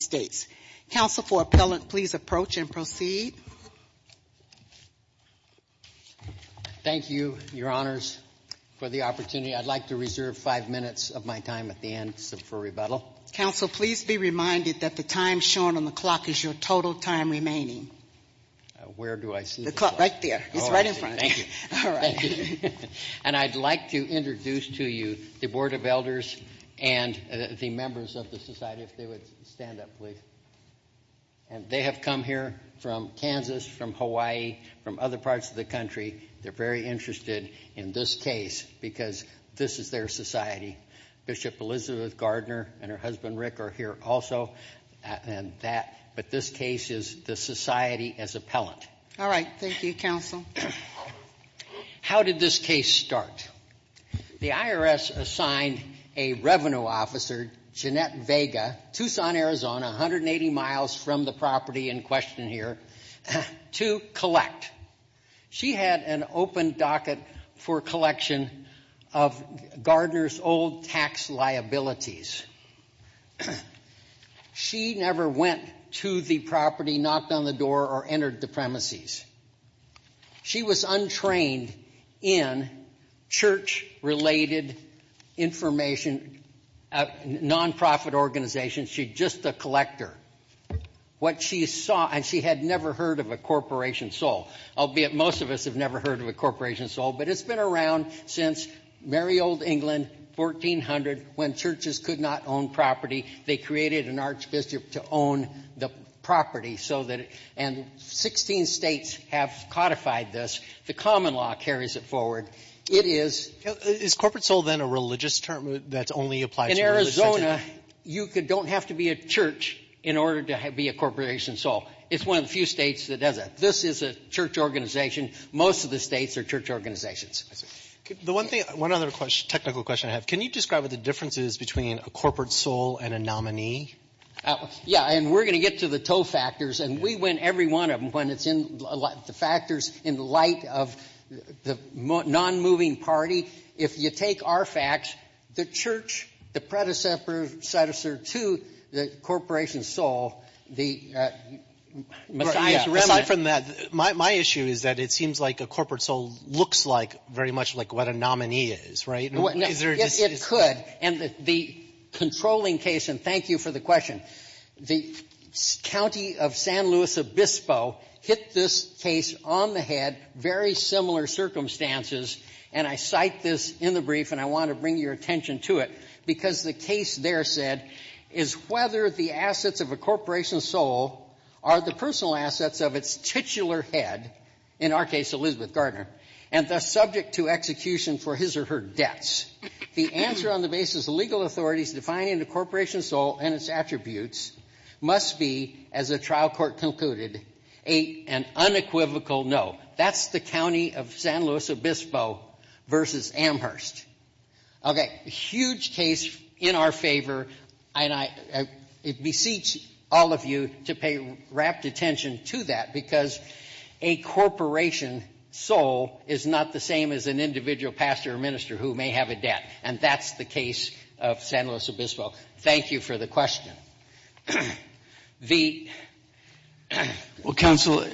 States. Counsel for appellant, please approach and proceed. Thank you, your honors, for the opportunity. I'd like to reserve five minutes of my time at the end for rebuttal. Counsel, please be reminded that the time shown on the clock is your total time remaining. Where do I see the clock? Right there. It's right in front. Thank you. And I'd like to introduce to you the Board of Elders and the members of the Society, if they would stand up, please. And they have come here from Kansas, from Hawaii, from other parts of the country. They're very interested in this case because this is their society. Bishop Elizabeth Gardner and her husband, Rick, are here also. But this case is the society as appellant. All right. Thank you, Counsel. How did this case start? The IRS assigned a revenue officer, Jeanette Vega, Tucson, Arizona, 180 miles from the property in question here, to collect. She had an open docket for collection of Gardner's old tax liabilities. She never went to the property, knocked on the door, or entered the premises. She was untrained in church-related information, non-profit organizations. She's just a collector. What she saw, and she had never heard of a corporation sold, albeit most of us have never heard of a corporation sold, but it's been around since merry old England, 1400, when churches could not own property. They created an archbishop to own the property so that it — and 16 States have codified this. The common law carries it forward. It is — Is corporate sold, then, a religious term that's only applied to — In Arizona, you don't have to be a church in order to be a corporation sold. It's one of the few States that does it. This is a church organization. Most of the States are church organizations. The one thing — one other technical question I have. Can you describe what the difference is between a corporate sold and a nominee? Yeah. And we're going to get to the two factors. And we went every one of them when it's in the factors in the light of the non-moving party. If you take our facts, the church, the predecessor to the corporation sold, the Messiah's remnant — Very much like what a nominee is, right? No. It could. And the controlling case — and thank you for the question. The county of San Luis Obispo hit this case on the head, very similar circumstances. And I cite this in the brief, and I want to bring your attention to it, because the case there said, is whether the assets of a corporation sold are the personal assets of its titular head — in our case, Elizabeth Gardner — and thus subject to execution for his or her debts. The answer on the basis of legal authorities defining the corporation sold and its attributes must be, as the trial court concluded, an unequivocal no. That's the county of San Luis Obispo versus Amherst. Okay. Huge case in our favor. And I beseech all of you to pay rapt attention to that, because a corporation sold is not the same as an individual pastor or minister who may have a debt. And that's the case of San Luis Obispo. Thank you for the question. Well, counsel,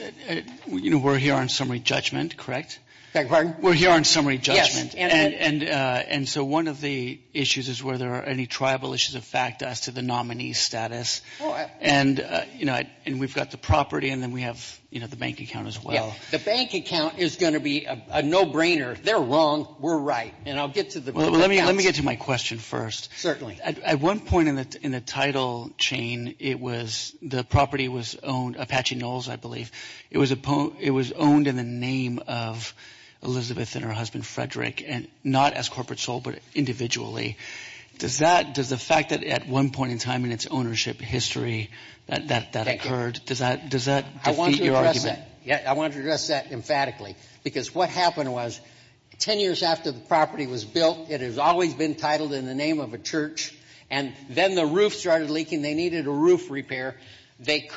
you know, we're here on summary judgment, correct? Beg your pardon? We're here on summary judgment. And so one of the issues is whether there are any tribal issues of fact as to the nominee's status. And, you know, and we've got the property, and then we have, you know, the bank account as well. The bank account is going to be a no-brainer. They're wrong. We're right. And I'll get to the — Well, let me — let me get to my question first. Certainly. At one point in the title chain, it was — the property was owned — Apache Knolls, I believe — it was a — it was owned in the name of Elizabeth and her husband, at one point in time in its ownership history that occurred. Does that defeat your argument? I want to address that. Yeah, I want to address that emphatically. Because what happened was, 10 years after the property was built, it has always been titled in the name of a church. And then the roof started leaking. They needed a roof repair. They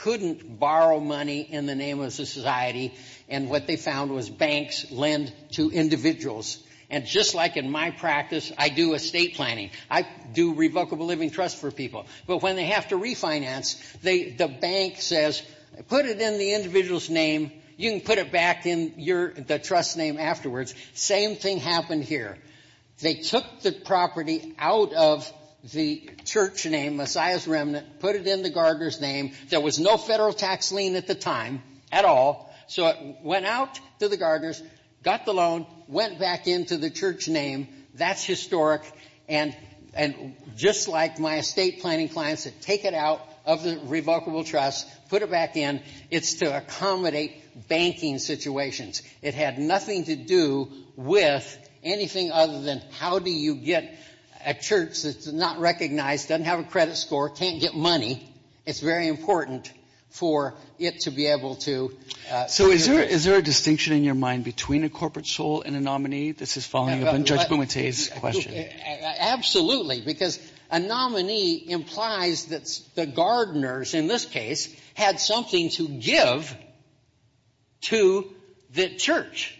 couldn't borrow money in the name of the society. And what they found was banks lend to individuals. And just like in my practice, I do estate planning. I do revocable living trust for people. But when they have to refinance, they — the bank says, put it in the individual's name. You can put it back in your — the trust name afterwards. Same thing happened here. They took the property out of the church name, Messiah's Remnant, put it in the gardener's name. There was no federal tax lien at the time at all. So it went out to the gardeners, got the loan, went back into the church name. That's historic. And just like my estate planning clients that take it out of the revocable trust, put it back in, it's to accommodate banking situations. It had nothing to do with anything other than how do you get a church that's not recognized, doesn't have a credit score, can't get money. It's very important for it to be able to — So is there — is there a distinction in your mind between a corporate soul and a nominee? This is following up on Judge Bumate's question. Absolutely, because a nominee implies that the gardeners, in this case, had something to give to the church,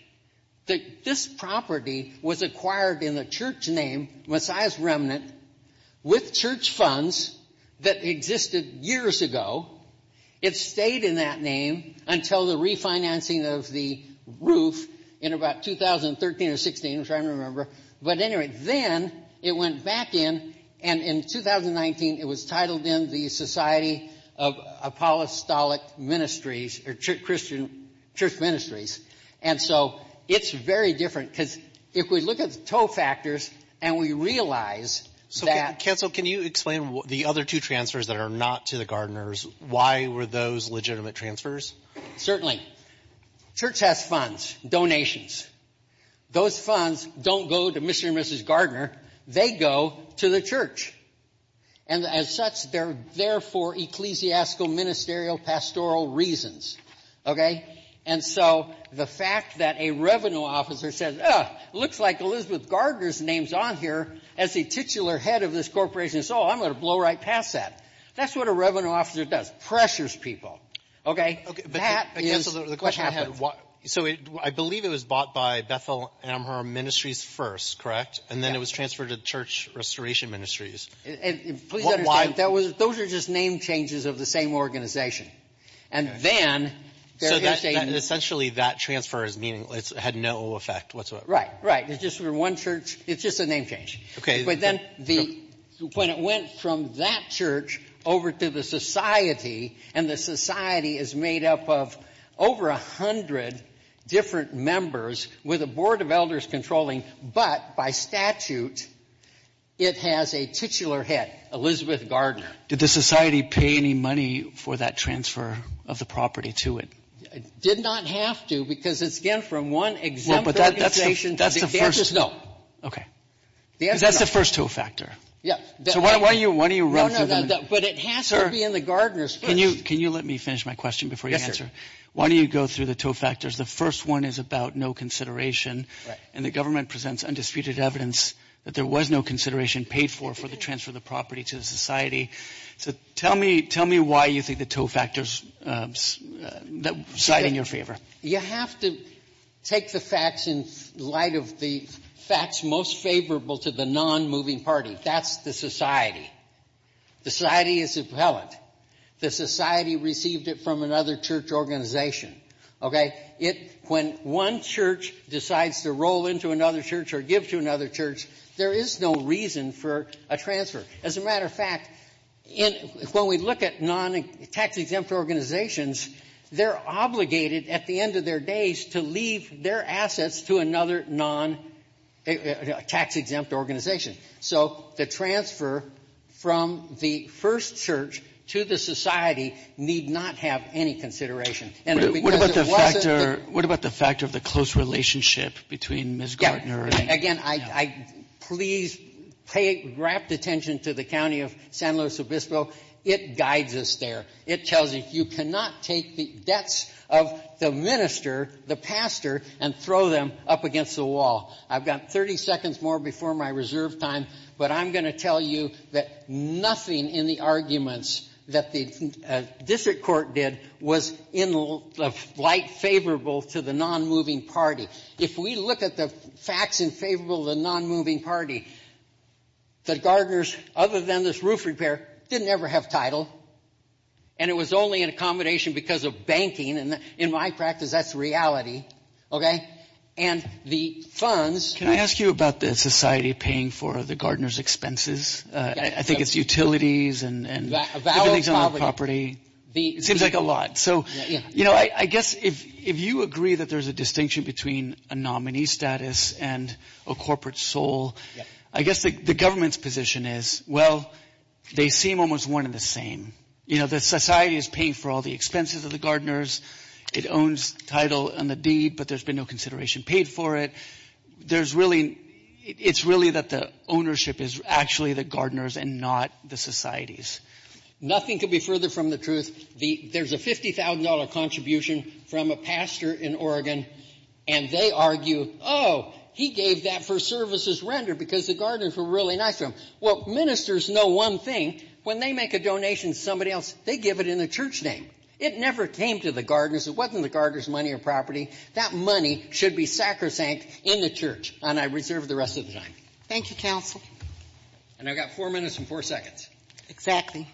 that this property was acquired in the church name, Messiah's Remnant, with church funds that existed years ago. It stayed in that name until the refinancing of the roof in about 2013 or 16, which I don't remember. But anyway, then it went back in. And in 2019, it was titled in the Society of Apostolic Ministries, or Christian Church Ministries. And so it's very different, because if we look at the tow factors and we realize that — Counsel, can you explain the other two transfers that are not to the gardeners? Why were those legitimate transfers? Certainly. Church has funds, donations. Those funds don't go to Mr. and Mrs. Gardner. They go to the church. And as such, they're there for ecclesiastical, ministerial, pastoral reasons. Okay? And so the fact that a revenue officer says, ah, looks like Elizabeth Gardner's name's on here as the titular head of this corporation, so I'm going to blow right past that. That's what a revenue officer does, pressures people. Okay? That is what happens. So I believe it was bought by Bethel Amherst Ministries first, correct? And then it was transferred to Church Restoration Ministries. Please understand, those are just name changes of the same organization. And then — So essentially, that transfer had no effect whatsoever? Right, right. It's just for one church. It's just a name change. But then the — when it went from that church over to the society, and the society is made up of over 100 different members with a board of elders controlling, but by statute, it has a titular head, Elizabeth Gardner. Did the society pay any money for that transfer of the property to it? It did not have to, because it's, again, from one exempt organization to the other. Well, but that's the first — No. Okay. That's the first two-factor. Yeah. So why don't you run through them? But it has to be in the Gardner's first. Can you let me finish my question before you answer? Yes, sir. Why don't you go through the two-factors? The first one is about no consideration, and the government presents undisputed evidence that there was no consideration paid for for the transfer of the property to the society. So tell me why you think the two-factors side in your favor. You have to take the facts in light of the facts most favorable to the nonmoving party. That's the society. The society is a pellet. The society received it from another church organization, okay? It — when one church decides to roll into another church or give to another church, there is no reason for a transfer. As a matter of fact, when we look at tax-exempt organizations, they're obligated at the end of their days to leave their assets to another non-tax-exempt organization. So the transfer from the first church to the society need not have any consideration. And because it wasn't — What about the factor of the close relationship between Ms. Gardner and — Again, I — please pay rapt attention to the county of San Luis Obispo. It guides us there. It tells you you cannot take the debts of the minister, the pastor, and throw them up against the wall. I've got 30 seconds more before my reserve time, but I'm going to tell you that nothing in the arguments that the district court did was in light favorable to the nonmoving party. If we look at the facts in favor of the nonmoving party, the Gardners, other than this roof repair, didn't ever have title. And it was only an accommodation because of banking. And in my practice, that's reality. And the funds — Can I ask you about the society paying for the Gardners' expenses? I think it's utilities and — A valid property. It seems like a lot. So, you know, I guess if you agree that there's a distinction between a nominee status and a corporate soul, I guess the government's position is, well, they seem almost one and the same. You know, the society is paying for all the expenses of the Gardners. It owns title and the deed, but there's been no consideration paid for it. There's really — it's really that the ownership is actually the Gardners and not the societies. Nothing could be further from the truth. There's a $50,000 contribution from a pastor in Oregon, and they argue, oh, he gave that for services rendered because the Gardners were really nice to him. Well, ministers know one thing. When they make a donation to somebody else, they give it in the church name. It never came to the Gardners. It wasn't the Gardners' money or property. That money should be sacrosanct in the church. And I reserve the rest of the time. Thank you, counsel. And I've got four minutes and four seconds. Exactly.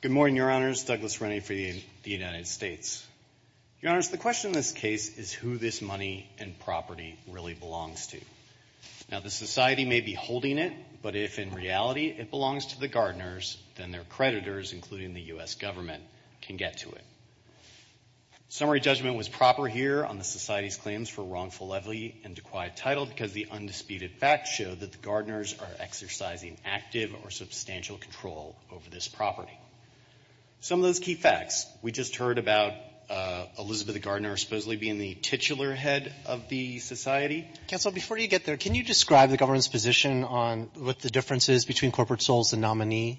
Good morning, Your Honors. Douglas Rennie for the United States. Your Honors, the question in this case is who this money and property really belongs to. Now, the society may be holding it, but if, in reality, it belongs to the Gardners, then their creditors, including the U.S. government, can get to it. Summary judgment was proper here on the society's claims for wrongful levy and dequired title because the undisputed fact shows that the Gardners did not own the property. The Gardners are exercising active or substantial control over this property. Some of those key facts. We just heard about Elizabeth Gardner supposedly being the titular head of the society. Counsel, before you get there, can you describe the government's position on what the difference is between corporate souls and nominees?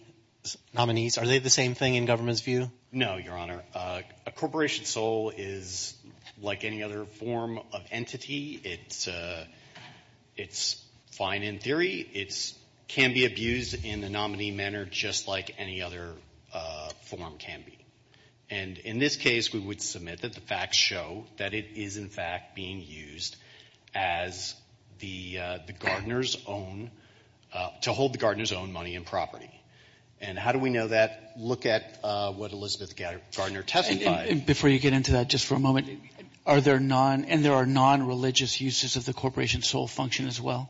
Are they the same thing in government's view? No, Your Honor. A corporation soul is like any other form of entity. It's fine in theory. It can be abused in a nominee manner just like any other form can be. And in this case, we would submit that the facts show that it is, in fact, being used as the Gardners' own, to hold the Gardners' own money and property. And how do we know that? Look at what Elizabeth Gardner testified. Before you get into that, just for a moment, and there are nonreligious uses of the corporation soul function as well?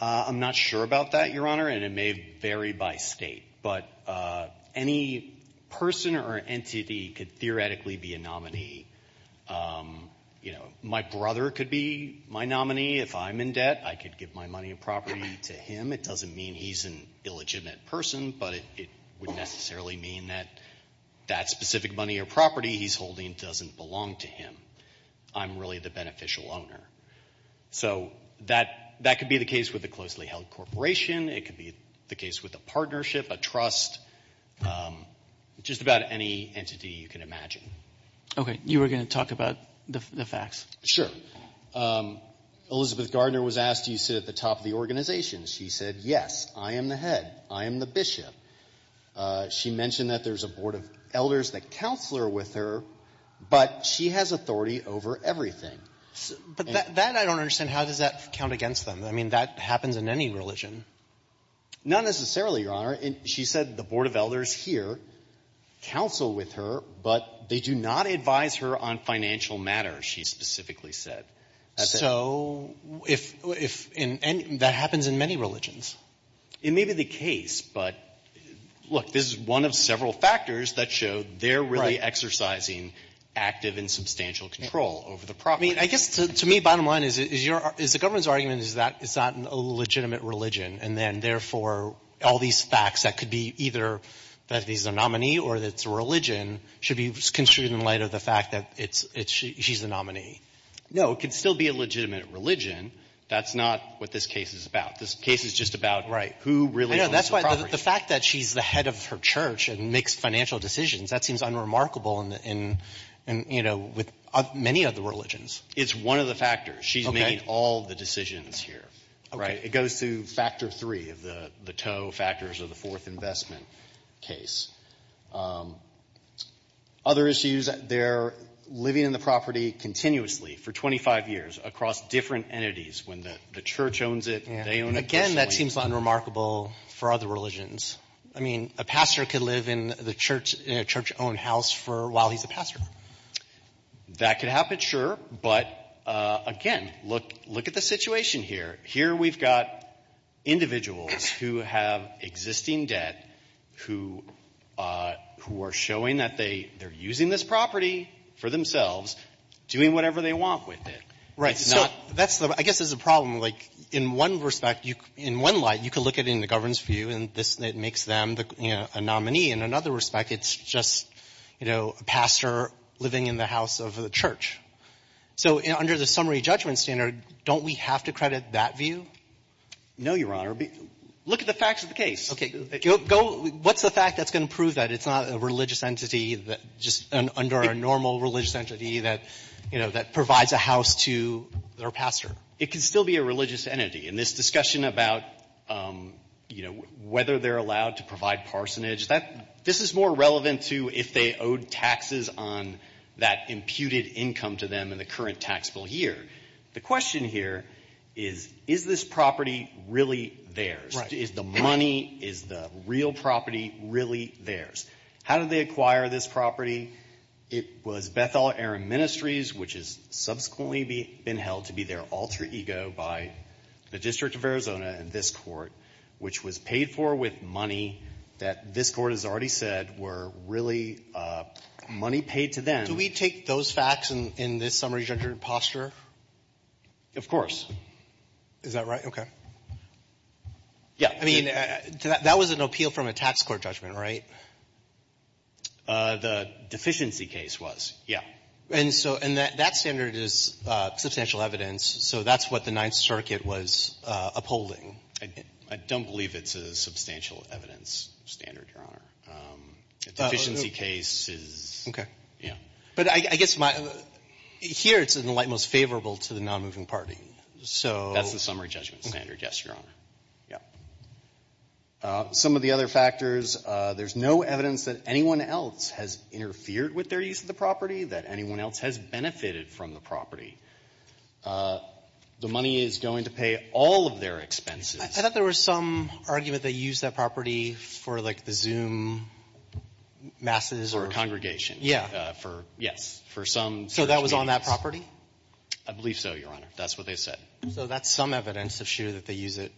I'm not sure about that, Your Honor, and it may vary by state. But any person or entity could theoretically be a nominee. You know, my brother could be my nominee. If I'm in debt, I could give my money and property to him. It doesn't mean he's an illegitimate person, but it would necessarily mean that that specific money or property he's holding doesn't belong to him. I'm really the beneficial owner. So that could be the case with a closely held corporation. It could be the case with a partnership, a trust, just about any entity you can imagine. Okay. You were going to talk about the facts. Sure. Elizabeth Gardner was asked, do you sit at the top of the organization? She said, yes, I am the head. I am the bishop. She mentioned that there's a board of elders that counselor with her, but she has authority over everything. But that I don't understand. How does that count against them? I mean, that happens in any religion. Not necessarily, Your Honor. She said the board of elders here counsel with her, but they do not advise her on financial matters, she specifically said. So that happens in many religions. It may be the case, but look, this is one of several factors that show they're really exercising active and substantial control over the property. I guess to me, bottom line is the government's argument is that it's not a legitimate religion, and then therefore all these facts that could be either that he's a nominee or that it's a religion should be construed in light of the fact that she's the nominee. No, it could still be a legitimate religion. That's not what this case is about. This case is just about who really owns the property. The fact that she's the head of her church and makes financial decisions, that seems unremarkable in many other religions. It's one of the factors. She's making all the decisions here. It goes through factor three of the tow factors of the fourth investment case. Other issues, they're living in the property continuously for 25 years across different entities. When the church owns it, they own it. Again, that seems unremarkable for other religions. I mean, a pastor could live in a church-owned house while he's a pastor. That could happen, sure. But again, look at the situation here. Here we've got individuals who have existing debt who are showing that they're using this property for themselves, doing whatever they want with it. Right. So that's the — I guess there's a problem. Like, in one respect, in one light, you could look at it in the governance view, and this — it makes them a nominee. In another respect, it's just, you know, a pastor living in the house of a church. So under the summary judgment standard, don't we have to credit that view? No, Your Honor. Look at the facts of the case. Okay. Go — what's the fact that's going to prove that it's not a religious entity that just — under a normal religious entity that, you know, that provides a house to their pastor? It could still be a religious entity. In this discussion about, you know, whether they're allowed to provide parsonage, that — this is more relevant to if they owed taxes on that imputed income to them in the current taxable year. The question here is, is this property really theirs? Right. Is the money — is the real property really theirs? How did they acquire this property? It was Bethel Aram Ministries, which has subsequently been held to be their alter ego by the District of Arizona and this Court, which was paid for with money that this Court has already said were really money paid to them. Do we take those facts in this summary judgment posture? Of course. Is that right? Okay. Yeah. I mean, that was an appeal from a tax court judgment, right? The deficiency case was, yeah. And so — and that standard is substantial evidence, so that's what the Ninth Circuit was upholding. I don't believe it's a substantial evidence standard, Your Honor. A deficiency case is — Okay. Yeah. But I guess my — here it's in the light most favorable to the nonmoving party, so — That's the summary judgment standard, yes, Your Honor. Yeah. Some of the other factors, there's no evidence that anyone else has interfered with their use of the property, that anyone else has benefited from the property. The money is going to pay all of their expenses. I thought there was some argument they used that property for, like, the Zoom masses or — Or a congregation. Yeah. For — yes, for some — So that was on that property? I believe so, Your Honor. That's what they said. So that's some evidence of sure that they use it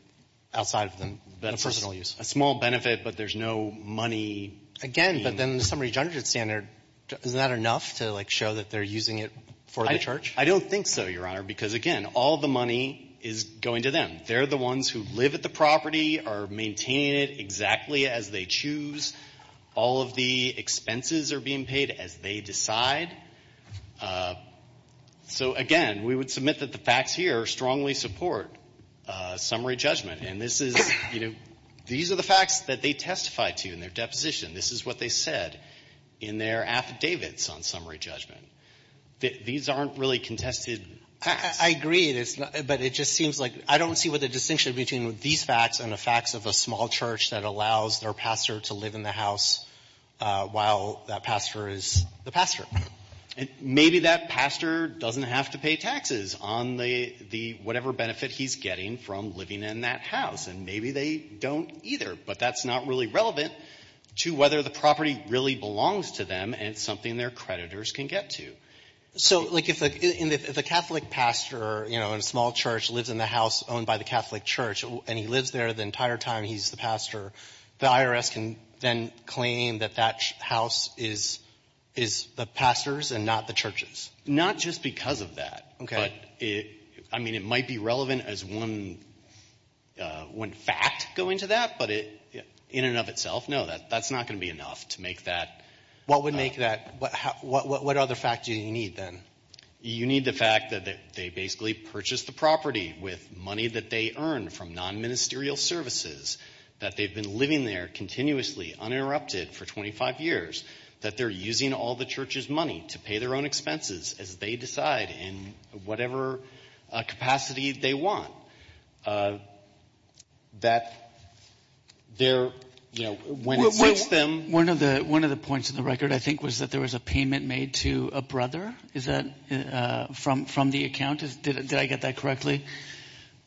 outside of the personal use? A small benefit, but there's no money — Again, but then the summary judgment standard, is that enough to, like, show that they're using it for the church? I don't think so, Your Honor, because, again, all the money is going to them. They're the ones who live at the property, are maintaining it exactly as they choose. All of the expenses are being paid as they decide. So, again, we would submit that the facts here strongly support summary judgment. And this is — you know, these are the facts that they testified to in their deposition. This is what they said in their affidavits on summary judgment. These aren't really contested facts. I agree, but it just seems like — I don't see what the distinction between these facts and the facts of a small church that allows their pastor to live in the house while that pastor is the pastor. And maybe that pastor doesn't have to pay taxes on the — whatever benefit he's getting from living in that house. And maybe they don't, either. But that's not really relevant to whether the property really belongs to them, and it's something their creditors can get to. So, like, if the Catholic pastor, you know, in a small church, lives in the house owned by the Catholic church, and he lives there the entire time he's the pastor, the IRS can then claim that that house is the pastor's and not the church's? Not just because of that. Okay. But it — I mean, it might be relevant as one fact going to that, but in and of itself, no, that's not going to be enough to make that — What would make that — what other fact do you need, then? You need the fact that they basically purchased the property with money that they earned from non-ministerial services, that they've been living there continuously, uninterrupted for 25 years, that they're using all the church's money to pay their own expenses as they decide in whatever capacity they want. That they're — you know, when it suits them — One of the — one of the points in the record, I think, was that there was a payment made to a brother? Is that — from the account? Did I get that correctly?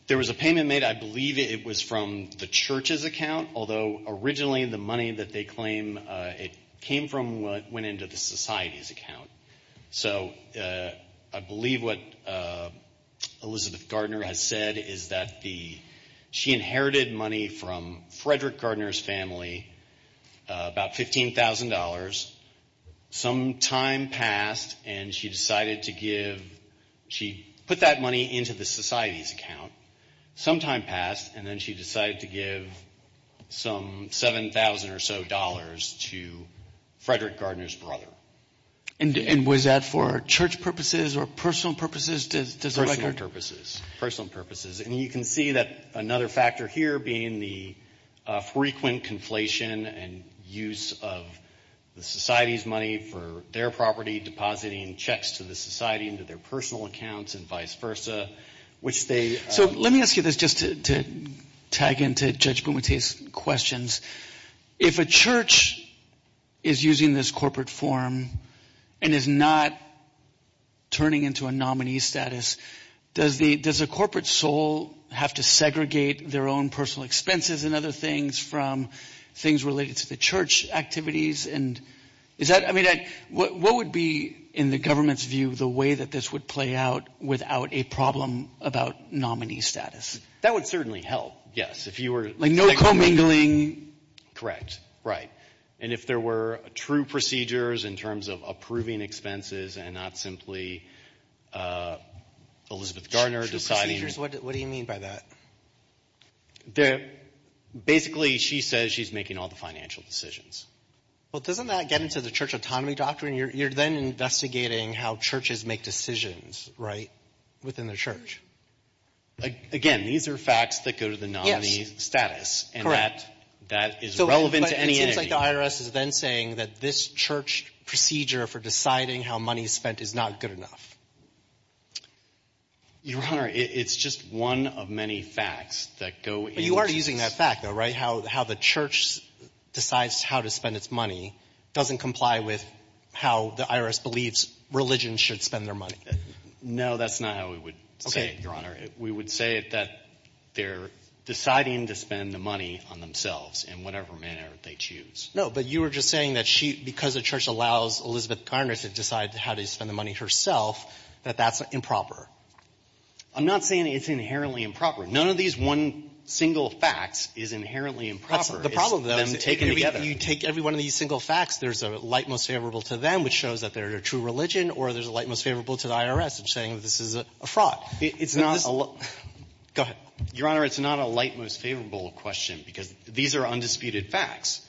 There was a payment made, I believe it was from the church's account, although originally the money that they claim it came from went into the society's account. So I believe what Elizabeth Gardner has said is that the — she inherited money from Frederick Gardner's family, about $15,000. Some time passed, and she decided to give — she put that money into the society's account. Some time passed, and then she decided to give some $7,000 or so to Frederick Gardner's brother. And was that for church purposes or personal purposes? Does the record — Personal purposes. And you can see that another factor here being the frequent conflation and use of the society's money for their property, depositing checks to the society into their personal accounts and vice versa, which they — So let me ask you this just to tag into Judge Bumate's questions. If a church is using this corporate form and is not turning into a nominee status, does a corporate soul have to segregate their own personal expenses and other things from things related to the church activities? And is that — I mean, what would be, in the government's view, the way that this would play out without a problem about nominee status? That would certainly help, yes, if you were — Like no commingling. Correct. Right. And if there were true procedures in terms of approving expenses and not simply Elizabeth Garner deciding — What do you mean by that? Basically, she says she's making all the financial decisions. Well, doesn't that get into the church autonomy doctrine? You're then investigating how churches make decisions, right, within their church. Again, these are facts that go to the nominee status. And that is relevant to any — It seems like the IRS is then saying that this church procedure for deciding how money is spent is not good enough. Your Honor, it's just one of many facts that go into this — But you are using that fact, though, right? How the church decides how to spend its money doesn't comply with how the IRS believes religion should spend their money. No, that's not how we would say it, Your Honor. We would say that they're deciding to spend the money on themselves in whatever manner they choose. No, but you were just saying that she — because the church allows Elizabeth Garner to decide how to spend the money herself, that that's improper. I'm not saying it's inherently improper. None of these one single facts is inherently improper. That's the problem, though. It's them taken together. You take every one of these single facts, there's a light most favorable to them, which shows that they're a true religion, or there's a light most favorable to the IRS, which is saying that this is a fraud. It's not a — Go ahead. Your Honor, it's not a light most favorable question because these are undisputed facts.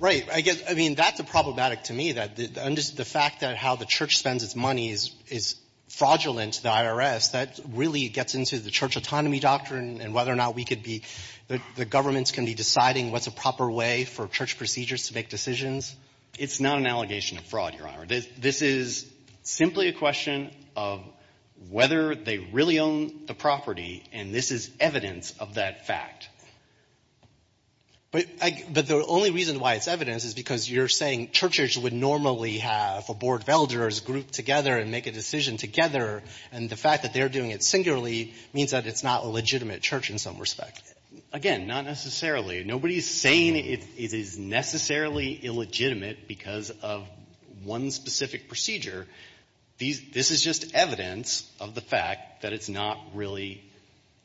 Right. I mean, that's problematic to me, the fact that how the church spends its money is fraudulent to the IRS. That really gets into the church autonomy doctrine and whether or not we could be — the government's going to be deciding what's a proper way for church procedures to make decisions. It's not an allegation of fraud, Your Honor. This is simply a question of whether they really own the property, and this is evidence of that fact. But I — but the only reason why it's evidence is because you're saying churches would normally have a board of elders grouped together and make a decision together, and the fact that they're doing it singularly means that it's not a legitimate church in some respect. Again, not necessarily. Nobody's saying it is necessarily illegitimate because of one specific procedure. These — this is just evidence of the fact that it's not really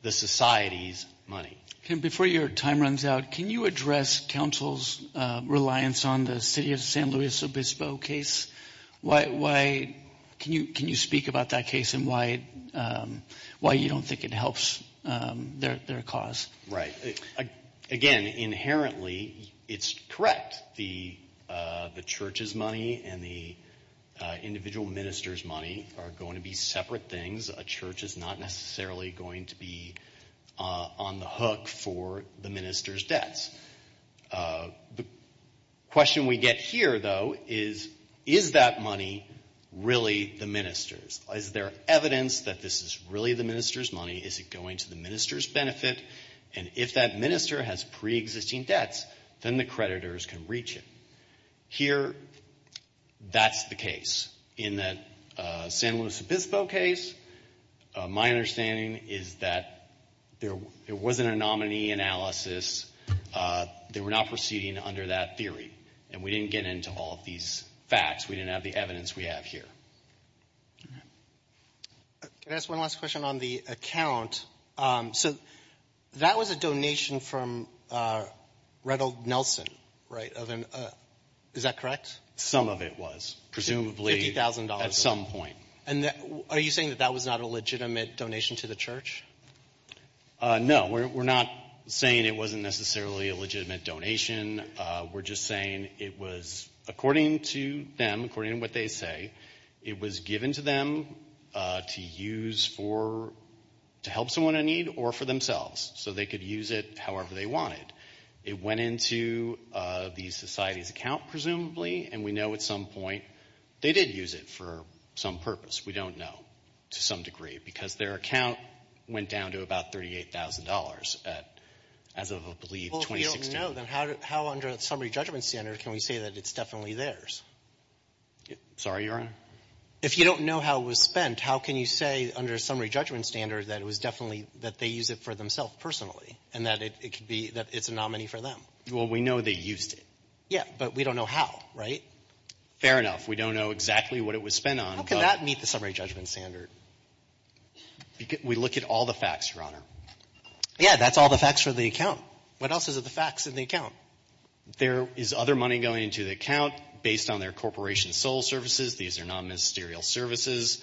the society's money. Before your time runs out, can you address counsel's reliance on the city of San Luis Obispo case? Why — can you speak about that case and why you don't think it helps their cause? Right. Again, inherently, it's correct. The church's money and the individual minister's money are going to be separate things. A church is not necessarily going to be on the hook for the minister's debts. The question we get here, though, is, is that money really the minister's? Is there evidence that this is really the minister's money? Is it going to the minister's benefit? And if that minister has preexisting debts, then the creditors can reach it. Here, that's the case. In that San Luis Obispo case, my understanding is that there — it wasn't a nominee analysis. They were not proceeding under that theory. And we didn't get into all of these facts. We didn't have the evidence we have here. All right. Can I ask one last question on the account? So that was a donation from Reddell Nelson, right, of an — is that correct? Some of it was, presumably. At some point. And are you saying that that was not a legitimate donation to the church? No, we're not saying it wasn't necessarily a legitimate donation. We're just saying it was, according to them, according to what they say, it was given to them to use for — to help someone in need or for themselves, so they could use it however they wanted. It went into the society's account, presumably. And we know at some point they did use it for some purpose. We don't know, to some degree, because their account went down to about $38,000 at — as of, I believe, 2016. Well, if we don't know, then how under a summary judgment standard can we say that it's definitely theirs? Sorry, Your Honor? If you don't know how it was spent, how can you say under a summary judgment standard that it was definitely — that they used it for themselves personally and that it could be — that it's a nominee for them? Well, we know they used it. Yeah, but we don't know how, right? Fair enough. We don't know exactly what it was spent on, but — How can that meet the summary judgment standard? We look at all the facts, Your Honor. Yeah, that's all the facts for the account. What else is in the facts in the account? There is other money going into the account based on their corporation sole services. These are non-ministerial services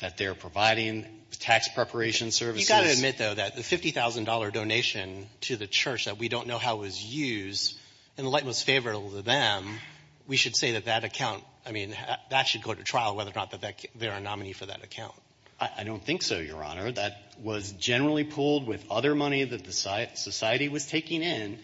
that they're providing, tax preparation services. You've got to admit, though, that the $50,000 donation to the church that we don't know how it was used, and the light was favorable to them, we should say that that account — I mean, that should go to trial whether or not they're a nominee for that account. I don't think so, Your Honor. That was generally pooled with other money that the society was taking in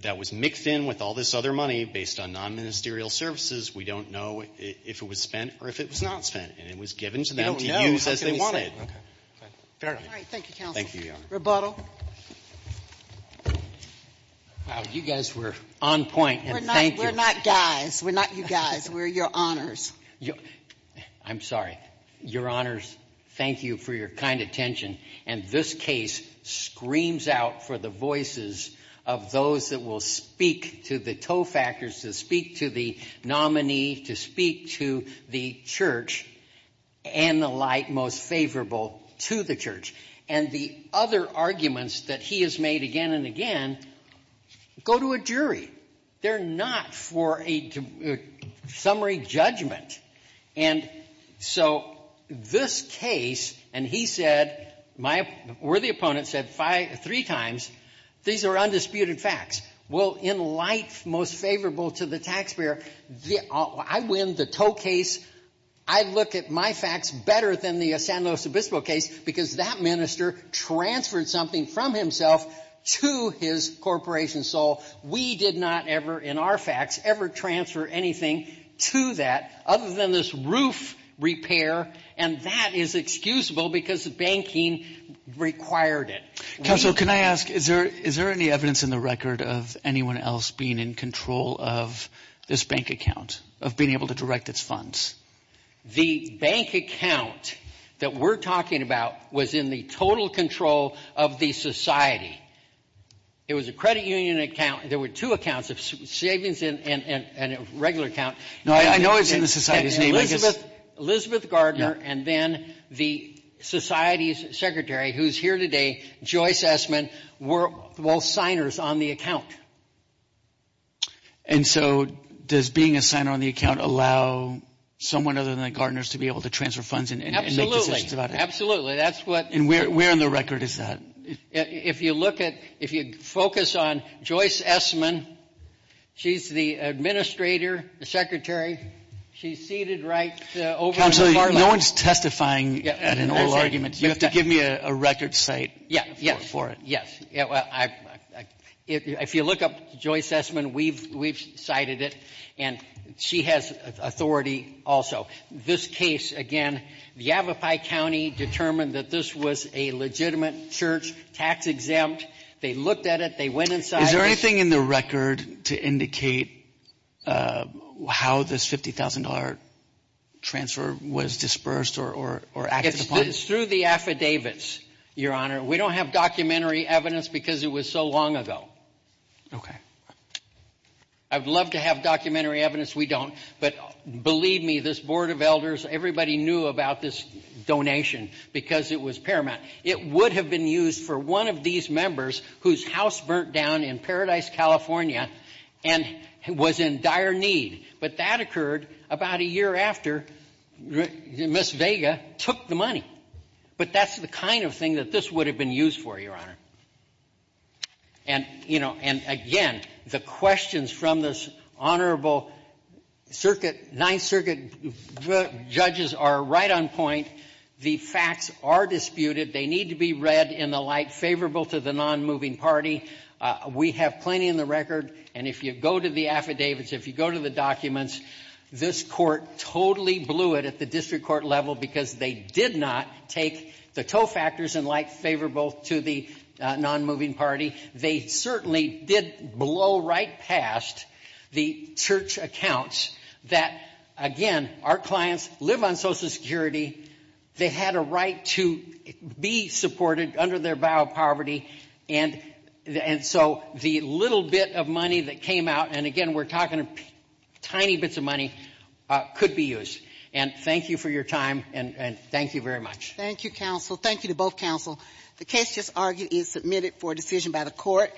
that was mixed in with all this other money based on non-ministerial services. We don't know if it was spent or if it was not spent, and it was given to them to use as they wanted. Fair enough. All right. Thank you, counsel. Thank you, Your Honor. Rebuttal. Wow, you guys were on point, and thank you. We're not guys. We're not you guys. We're your honors. I'm sorry. Your honors, thank you for your kind attention, and this case screams out for the voices of those that will speak to the tow factors, to speak to the nominee, to speak to the church and the like most favorable to the church. And the other arguments that he has made again and again go to a jury. They're not for a summary judgment. And so this case, and he said — my worthy opponent said three times, these are undisputed facts. Well, in light most favorable to the taxpayer, I win the tow case. I look at my facts better than the San Luis Obispo case because that minister transferred something from himself to his corporation. So we did not ever, in our facts, ever transfer anything to that other than this roof repair, and that is excusable because banking required it. Counselor, can I ask, is there any evidence in the record of anyone else being in control of this bank account, of being able to direct its funds? The bank account that we're talking about was in the total control of the society. It was a credit union account. There were two accounts, a savings and a regular account. No, I know it's in the society's name. Elizabeth Gardner and then the society's secretary, who's here today, Joyce Essman, were both signers on the account. And so does being a signer on the account allow someone other than the Gardners to be able to transfer funds and make decisions about it? Absolutely. That's what — And where in the record is that? If you look at — if you focus on Joyce Essman, she's the administrator, the secretary. She's seated right over — Counselor, no one's testifying at an oral argument. You have to give me a record site for it. If you look up Joyce Essman, we've cited it, and she has authority also. This case, again, the Yavapai County determined that this was a legitimate church tax exempt. They looked at it. They went inside. Is there anything in the record to indicate how this $50,000 transfer was dispersed or acted upon? It's through the affidavits, Your Honor. We don't have documentary evidence because it was so long ago. OK. I'd love to have documentary evidence. We don't. But believe me, this board of elders, everybody knew about this donation because it was paramount. It would have been used for one of these members whose house burnt down in Paradise, California, and was in dire need. But that occurred about a year after Ms. Vega took the money. But that's the kind of thing that this would have been used for, Your Honor. And, you know, and again, the questions from this honorable circuit — Ninth Circuit judges are right on point. The facts are disputed. They need to be read in the light favorable to the nonmoving party. We have plenty in the record. And if you go to the affidavits, if you go to the documents, this court totally blew it at the district court level because they did not take the tow factors in light favorable to the nonmoving party. They certainly did blow right past the church accounts that, again, our clients live on Social Security. They had a right to be supported under their vow of poverty. And so the little bit of money that came out — and again, we're talking tiny bits of money — could be used. And thank you for your time, and thank you very much. Thank you, counsel. Thank you to both counsel. The case just argued is submitted for decision by the court.